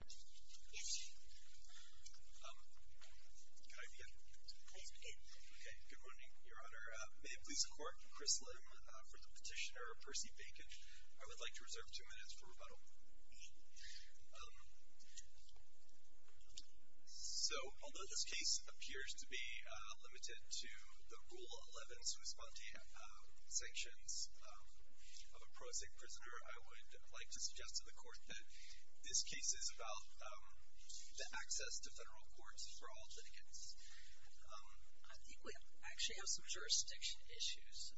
May it please the Court, Chris Lim for the petitioner Percy Bacon. I would like to reserve two minutes for rebuttal. So although this case appears to be limited to the Rule 11 sui sponte sanctions of a prosaic prisoner, I would like to suggest to the Court that this case is about the access to federal courts for all litigants. I think we actually have some jurisdiction issues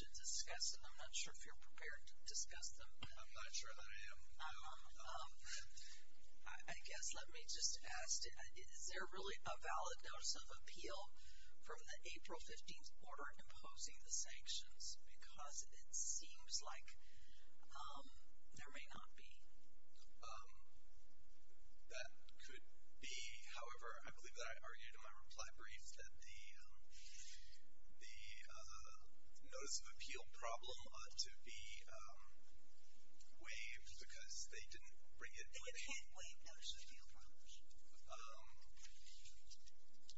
to discuss and I'm not sure if you're prepared to discuss them. I'm not sure that I am. I guess let me just ask, is there really a valid notice of appeal from the April 15th order imposing the sanctions? Because it seems like there may not be. That could be. However, I believe that I argued in my reply brief that the notice of appeal problem ought to be waived because they didn't bring it. And you can't waive notice of appeal problems?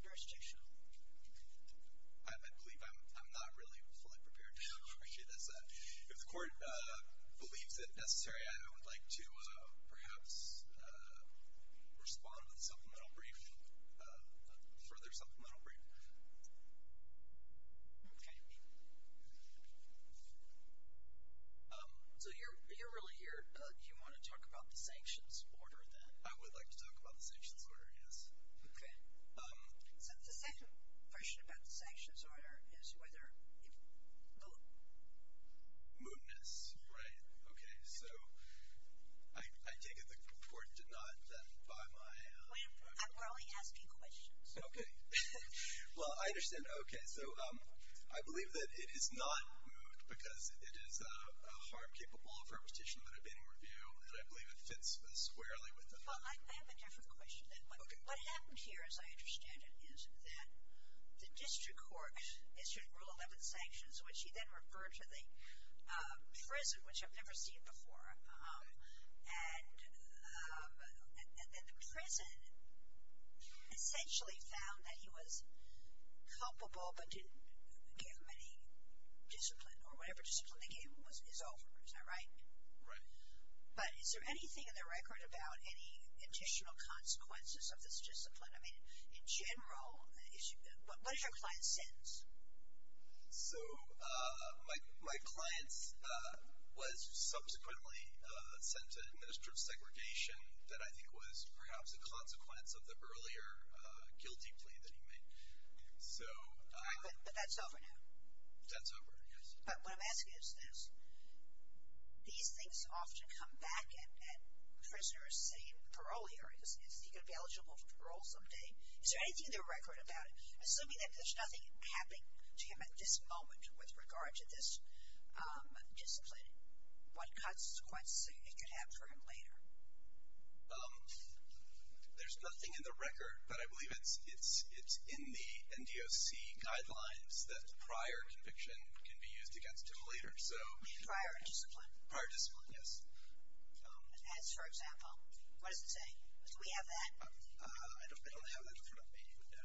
Jurisdiction? I believe I'm not really fully prepared to answer this. If the Court believes it necessary, I would like to perhaps respond with a supplemental brief, a further supplemental brief. Okay. So you're really here. Do you want to talk about the sanctions order then? I would like to talk about the sanctions order, yes. Okay. So the second question about the sanctions order is whether it moved. Mootness, right. Okay. So I take it the Court did not, then, by my… We're only asking questions. Okay. Well, I understand. Okay. So I believe that it is not moot because it is a harm capable of reputation that I've been in review and I believe it fits squarely with that. Well, I have a different question then. Okay. What happened here, as I understand it, is that the District Court issued Rule 11 sanctions, which he then referred to the prison, which I've never seen before. And the prison essentially found that he was culpable but didn't give him any discipline or whatever discipline they gave him is over. Is that right? Right. But is there anything in the record about any additional consequences of this discipline? I mean, in general, what did your client sentence? So my client was subsequently sent to administrative segregation that I think was perhaps a consequence of the earlier guilty plea that he made. But that's over now? That's over, yes. But what I'm asking is this. These things often come back at prisoners, say, in parole areas. Is he going to be eligible for parole someday? Is there anything in the record about it? Assuming that there's nothing happening to him at this moment with regard to this discipline, what consequences it could have for him later? There's nothing in the record, but I believe it's in the NDOC guidelines that prior conviction can be used against him later. You mean prior discipline? Prior discipline, yes. As, for example, what does it say? Do we have that? I don't have that in front of me, no.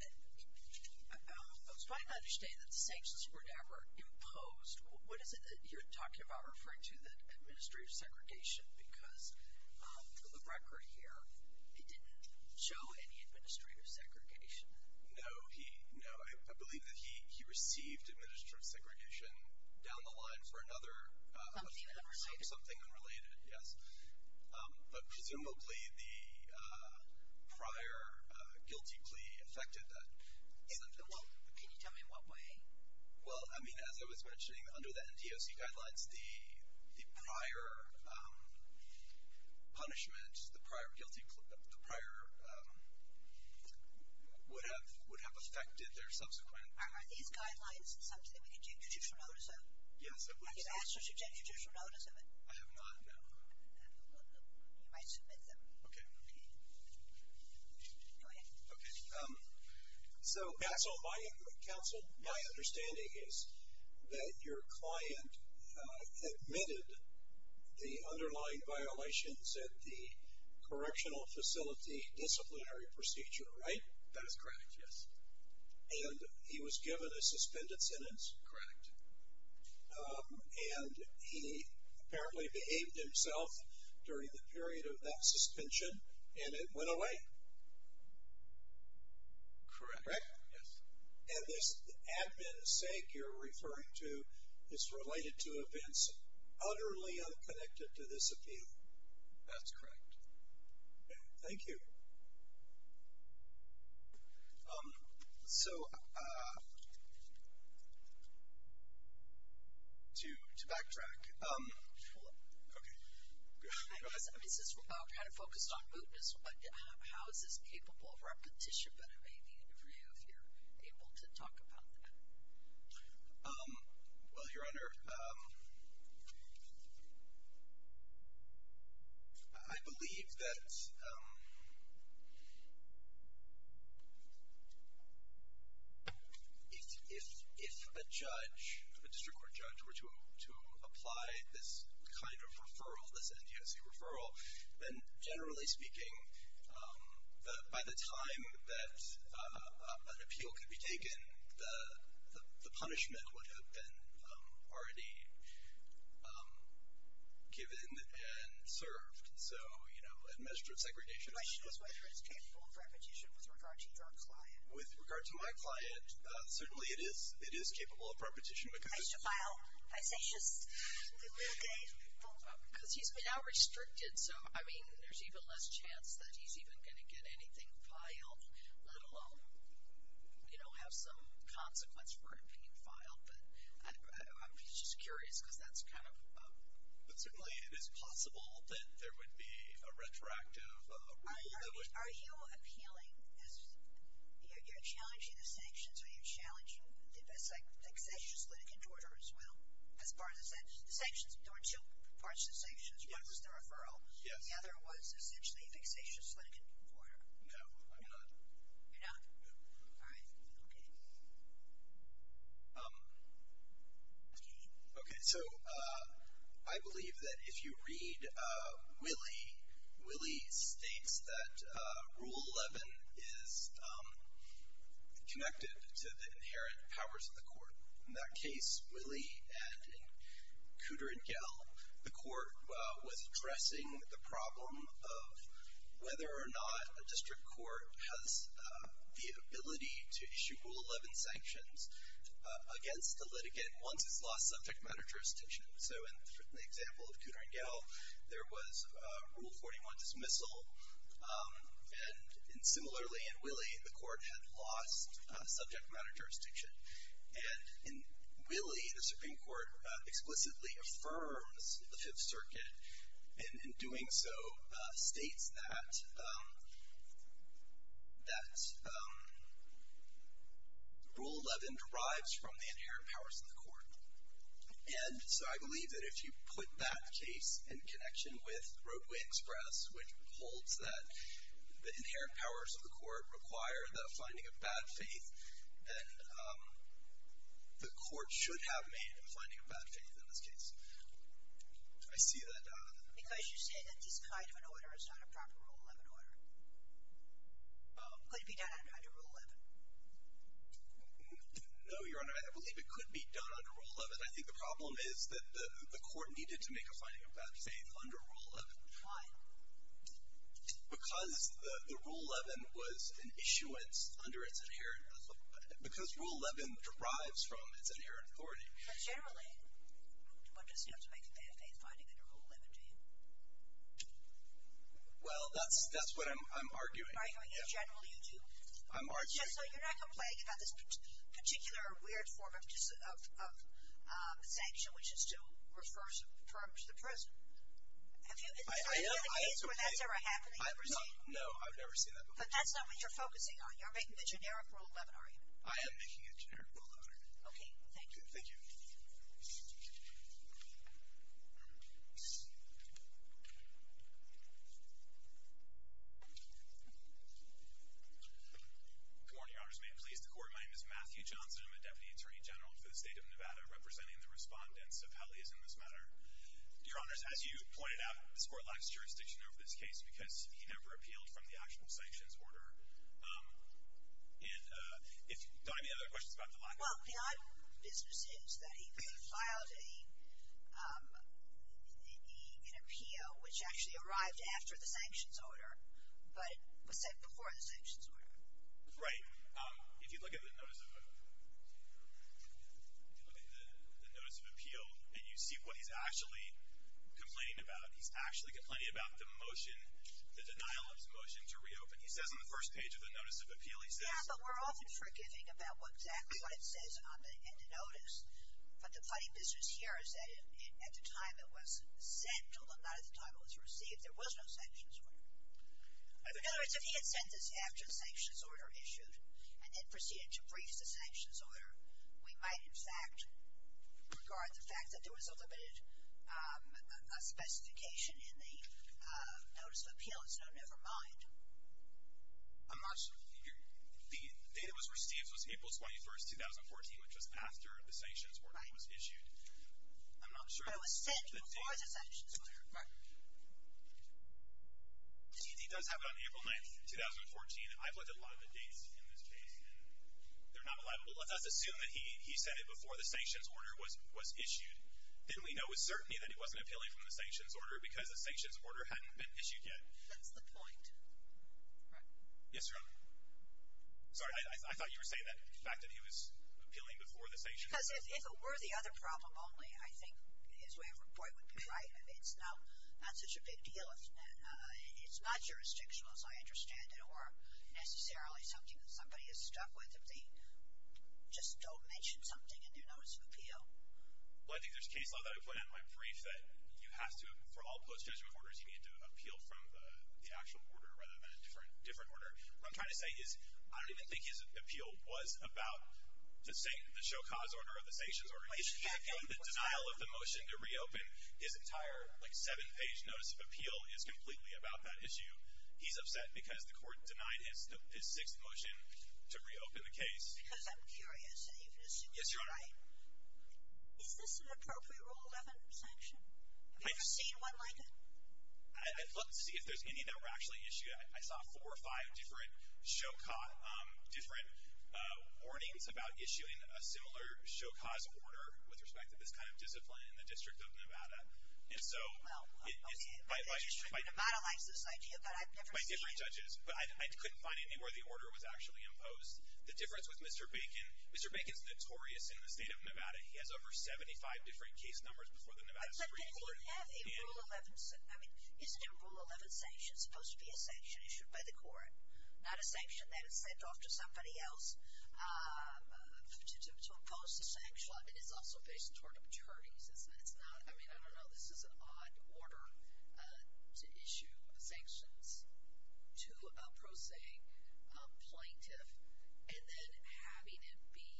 I'm starting to understand that the sanctions were never imposed. What is it that you're talking about referring to the administrative segregation? Because the record here, it didn't show any administrative segregation. No, I believe that he received administrative segregation down the line for another offense. Something unrelated? Something unrelated, yes. But presumably the prior guilty plea affected that. Can you tell me in what way? Well, I mean, as I was mentioning, under the NDOC guidelines, the prior punishment, the prior guilty plea, the prior would have affected their subsequent. Are these guidelines something we can take judicial notice of? Yes, it would say. I can ask you to take judicial notice of it. I have not, no. I submit them. Okay. Go ahead. Okay. So, counsel, my understanding is that your client admitted the underlying violations at the correctional facility disciplinary procedure, right? That is correct, yes. And he was given a suspended sentence? Correct. And he apparently behaved himself during the period of that suspension, and it went away? Correct. Correct? Yes. And this admin sake you're referring to is related to events utterly unconnected to this appeal? That's correct. Okay. Thank you. So, to backtrack. Hold on. Okay. I know this is kind of focused on mootness, but how is this capable of repetition that it may be for you if you're able to talk about that? Well, Your Honor, I believe that if a judge, a district court judge, were to apply this kind of referral, this NTSC referral, then generally speaking, by the time that an appeal could be taken, the punishment would have been already given and served. So, you know, administrative segregation. The question is whether it's capable of repetition with regard to your client. With regard to my client, certainly it is capable of repetition. I used to file. I say just a little day. Because he's now restricted. So, I mean, there's even less chance that he's even going to get anything filed, let alone, you know, have some consequence for it being filed. But I'm just curious because that's kind of. But certainly it is possible that there would be a retroactive rule that would. Are you appealing this? You're challenging the sanctions. Are you challenging the vexatious litigant order as well as part of the sanctions? The sanctions, there were two parts to the sanctions. One was the referral. Yes. The other was essentially a vexatious litigant order. You're not? No. All right. Okay. Okay. So, I believe that if you read Willie, Willie states that Rule 11 is connected to the inherent powers of the court. In that case, Willie and Cooter and Gell, the court was addressing the problem of whether or not a district court has the ability to issue Rule 11 sanctions against a litigant once it's lost subject matter jurisdiction. So, in the example of Cooter and Gell, there was Rule 41 dismissal. And similarly in Willie, the court had lost subject matter jurisdiction. And in Willie, the Supreme Court explicitly affirms the Fifth Circuit in doing so states that Rule 11 derives from the inherent powers of the court. And so, I believe that if you put that case in connection with Roadway Express, which holds that the inherent powers of the court require the finding of bad faith, then the court should have made a finding of bad faith in this case. I see that. Because you say that this kind of an order is not a proper Rule 11 order. Could it be done under Rule 11? No, Your Honor. I believe it could be done under Rule 11. I think the problem is that the court needed to make a finding of bad faith under Rule 11. Why? Because the Rule 11 was an issuance under its inherent authority. Because Rule 11 derives from its inherent authority. But generally, one doesn't have to make a bad faith finding under Rule 11, do you? Well, that's what I'm arguing. You're arguing that generally you do? I'm arguing. So, you're not complaining about this particular weird form of sanction, which is to refer a person to prison? I am. Have you ever seen a case where that's ever happened? No, I've never seen that before. But that's not what you're focusing on. You're making a generic Rule 11, are you? I am making a generic Rule 11. Okay. Thank you. Thank you. Good morning, Your Honors. May it please the Court. My name is Matthew Johnson. I'm a Deputy Attorney General for the State of Nevada, representing the respondents of Helly's in this matter. Your Honors, as you pointed out, this Court lacks jurisdiction over this case because he never appealed from the actual sanctions order. Do I have any other questions about the lack of jurisdiction? Well, the odd business is that he filed an appeal, which actually arrived after the sanctions order, but it was sent before the sanctions order. Right. If you look at the notice of appeal and you see what he's actually complaining about, he's actually complaining about the motion, the denial of his motion to reopen. He says on the first page of the notice of appeal, he says… Yeah, but we're often forgiving about exactly what it says on the notice. But the funny business here is that at the time it was sent, although not at the time it was received, there was no sanctions order. In other words, if he had sent this after the sanctions order issued and then proceeded to brief the sanctions order, we might in fact regard the fact that there was a limited specification in the notice of appeal as no, never mind. I'm not sure. The date it was received was April 21, 2014, which was after the sanctions order was issued. Right. I'm not sure. But it was sent before the sanctions order. Right. He does have it on April 9, 2014. I've looked at a lot of the dates in this case and they're not reliable. Let's assume that he sent it before the sanctions order was issued. Then we know with certainty that he wasn't appealing from the sanctions order because the sanctions order hadn't been issued yet. That's the point. Right. Yes, ma'am. Sorry, I thought you were saying that the fact that he was appealing before the sanctions order. Because if it were the other problem only, I think his way of reporting would be right. It's not such a big deal. It's not jurisdictional as I understand it or necessarily something that somebody is stuck with if they just don't mention something in their notice of appeal. Well, I think there's case law that I put in my brief that you have to, for all post-Jesuit orders, you need to appeal from the actual order rather than a different order. What I'm trying to say is I don't even think his appeal was about the Shokah's order or the sanctions order. His appeal and the denial of the motion to reopen his entire seven-page notice of appeal is completely about that issue. He's upset because the court denied his sixth motion to reopen the case. Because I'm curious, and you can assume you're right. Yes, Your Honor. Is this an appropriate Rule 11 sanction? Have you ever seen one like it? I'd love to see if there's any that were actually issued. I saw four or five different Shokah, different warnings about issuing a similar Shokah's order with respect to this kind of discipline in the District of Nevada. Well, the District of Nevada likes this idea, but I've never seen it. By different judges. But I couldn't find anywhere the order was actually imposed. The difference with Mr. Bacon, Mr. Bacon's notorious in the state of Nevada. He has over 75 different case numbers before the Nevada Supreme Court. But did he have a Rule 11, I mean, isn't a Rule 11 sanction supposed to be a sanction issued by the court? Not a sanction that is sent off to somebody else to impose the sanction. It is also based toward attorneys, isn't it? It's not, I mean, I don't know. This is an odd order to issue sanctions to a prosaic plaintiff and then having it be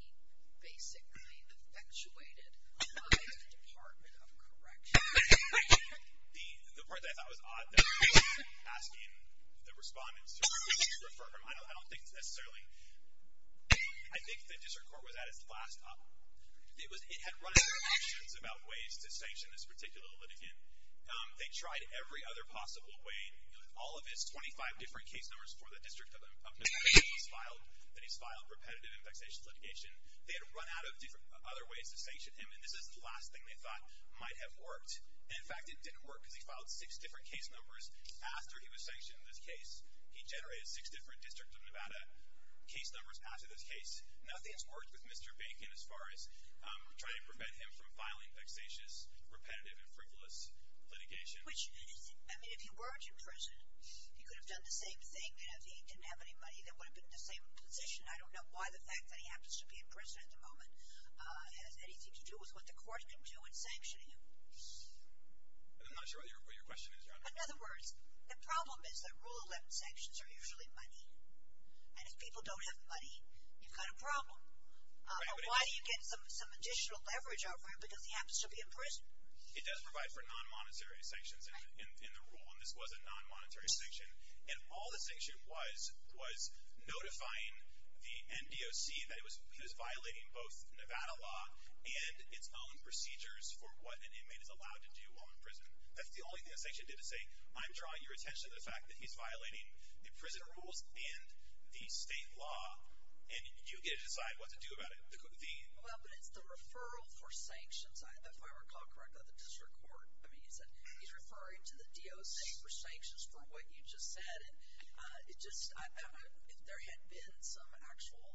basically effectuated by the Department of Corrections. The part that I thought was odd, that he wasn't asking the respondents to refer him, I don't think it's necessarily, I think the District Court was at its last up. It had run out of options about ways to sanction this particular litigant. They tried every other possible way. All of his 25 different case numbers for the District of Nevada that he's filed repetitive and vexatious litigation. They had run out of other ways to sanction him, and this is the last thing they thought might have worked. In fact, it didn't work because he filed six different case numbers after he was sanctioned in this case. He generated six different District of Nevada case numbers after this case. Nothing has worked with Mr. Bacon as far as trying to prevent him from filing vexatious, repetitive, and frivolous litigation. Which, I mean, if he weren't in prison, he could have done the same thing, and if he didn't have any money, they would have been in the same position. I don't know why the fact that he happens to be in prison at the moment has anything to do with what the court can do in sanctioning him. I'm not sure what your question is, Your Honor. In other words, the problem is that Rule 11 sanctions are usually money, and if people don't have money, you've got a problem. But why do you get some additional leverage out for him because he happens to be in prison? It does provide for non-monetary sanctions in the rule, and this was a non-monetary sanction, and all the sanction was was notifying the NDOC that he was violating both Nevada law and its own procedures for what an inmate is allowed to do while in prison. That's the only thing the sanction did was say, I'm drawing your attention to the fact that he's violating the prison rules and the state law, and you get to decide what to do about it. Well, but it's the referral for sanctions, if I recall correctly, the district court. I mean, he's referring to the DOC for sanctions for what you just said, if there had been some actual,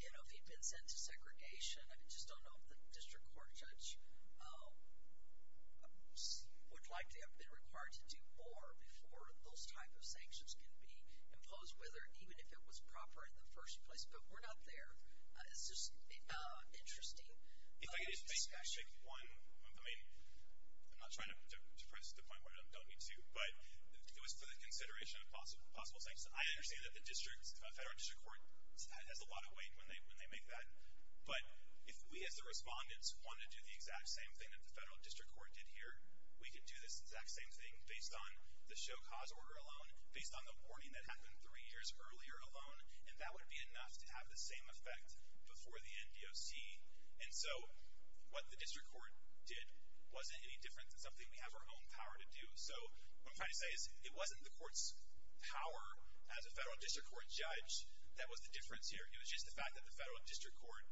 you know, if he'd been sent to segregation, I just don't know if the district court judge would likely have been required to do more before those type of sanctions could be imposed, even if it was proper in the first place. But we're not there. It's just interesting. If I could just make one, I mean, I'm not trying to press the point where I don't need to, but it was for the consideration of possible sanctions. I understand that the federal district court has a lot of weight when they make that. But if we as the respondents wanted to do the exact same thing that the federal district court did here, we could do this exact same thing based on the show cause order alone, based on the warning that happened three years earlier alone, and that would be enough to have the same effect before the NDOC. And so what the district court did wasn't any different than something we have our own power to do. So what I'm trying to say is it wasn't the court's power as a federal district court judge that was the difference here. It was just the fact that the federal district court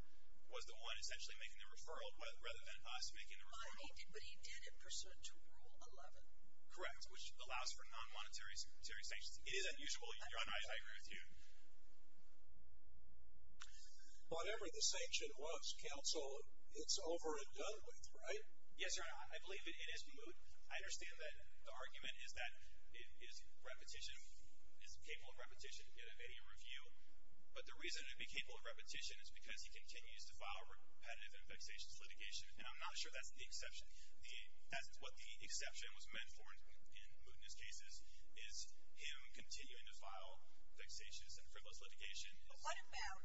was the one essentially making the referral rather than us making the referral. But he did it pursuant to Rule 11. Correct, which allows for non-monetary sanctions. It is unusual, Your Honor. I agree with you. Whatever the sanction was, counsel, it's over and done with, right? Yes, Your Honor. I believe it is. I understand that the argument is that repetition is capable of repetition in any review, but the reason it would be capable of repetition is because he continues to file repetitive and vexatious litigation, and I'm not sure that's the exception. What the exception was meant for in Mootness cases is him continuing to file vexatious and frivolous litigation. But what about,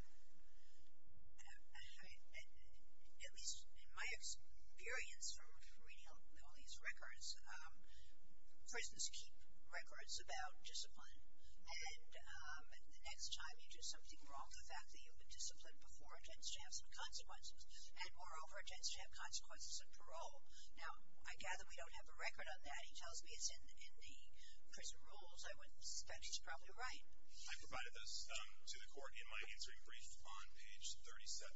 at least in my experience from reading all these records, prisons keep records about discipline, and the next time you do something wrong, the fact that you disciplined before tends to have some consequences, and moreover, it tends to have consequences in parole. Now, I gather we don't have a record on that. He tells me it's in the prison rules. I would suspect he's probably right. I provided this to the court in my answering brief on page 37.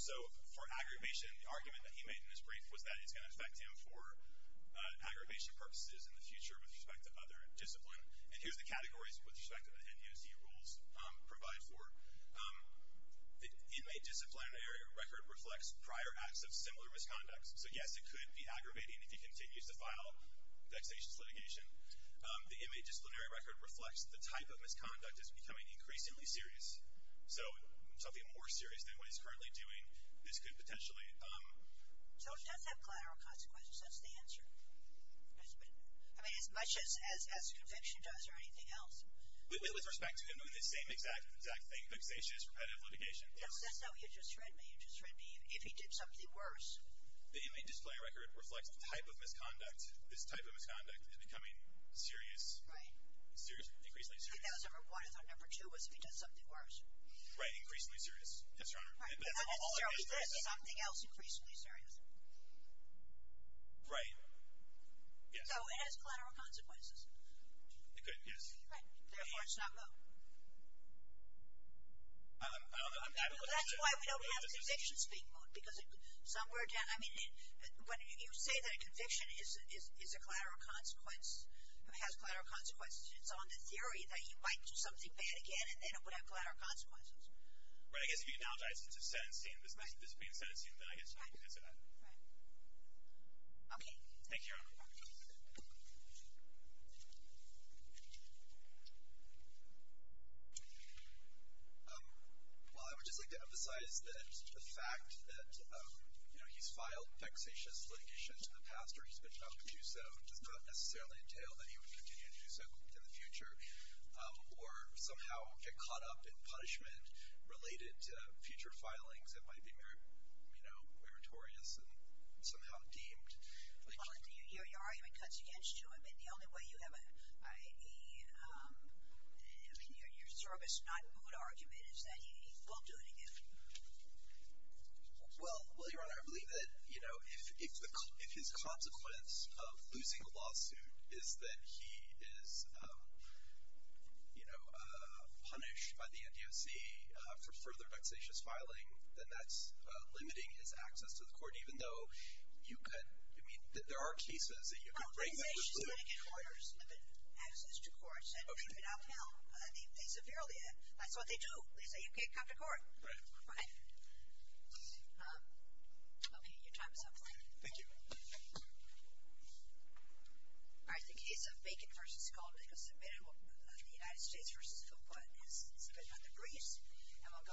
So for aggravation, the argument that he made in his brief was that it's going to affect him for aggravation purposes in the future with respect to other discipline, and here's the categories with respect to the NUSD rules provide for. The inmate disciplinary record reflects prior acts of similar misconduct. So, yes, it could be aggravating if he continues to file vexatious litigation. The inmate disciplinary record reflects the type of misconduct as becoming increasingly serious, so something more serious than what he's currently doing. So it does have collateral consequences. That's the answer. I mean, as much as conviction does or anything else. With respect to him doing the same exact thing, vexatious, repetitive litigation. That's not what you just read me. You just read me if he did something worse. The inmate disciplinary record reflects the type of misconduct, this type of misconduct as becoming serious, increasingly serious. I thought number two was if he does something worse. Right, increasingly serious, yes, Your Honor. If he does something else, increasingly serious. Right. Yes. So it has collateral consequences. It could, yes. Therefore, it's not moot. That's why we don't have convictions being moot because somewhere down, I mean, when you say that a conviction is a collateral consequence, has collateral consequences, it's on the theory that he might do something bad again and then it would have collateral consequences. Right, I guess if you analogize it to sentencing, this being sentencing, then I guess you could answer that. Right. Okay. Thank you, Your Honor. Well, I would just like to emphasize that the fact that, you know, he's filed vexatious litigation to the pastor, he's been told to do so, does not necessarily entail that he would continue to do so in the future or somehow get caught up in punishment-related future filings that might be meritorious and somehow deemed. Your argument cuts against you. I mean, the only way you have a, I mean, your service not moot argument is that he won't do it again. If his consequence of losing a lawsuit is that he is, you know, punished by the NDOC for further vexatious filing, then that's limiting his access to the court, even though you could, I mean, there are cases that you could bring that to the court. Well, vexatious litigation orders limit access to courts. Okay. And they could out-count. They severely, that's what they do. They say you can't come to court. Right. Right. Okay. Your time is up. Thank you. Thank you.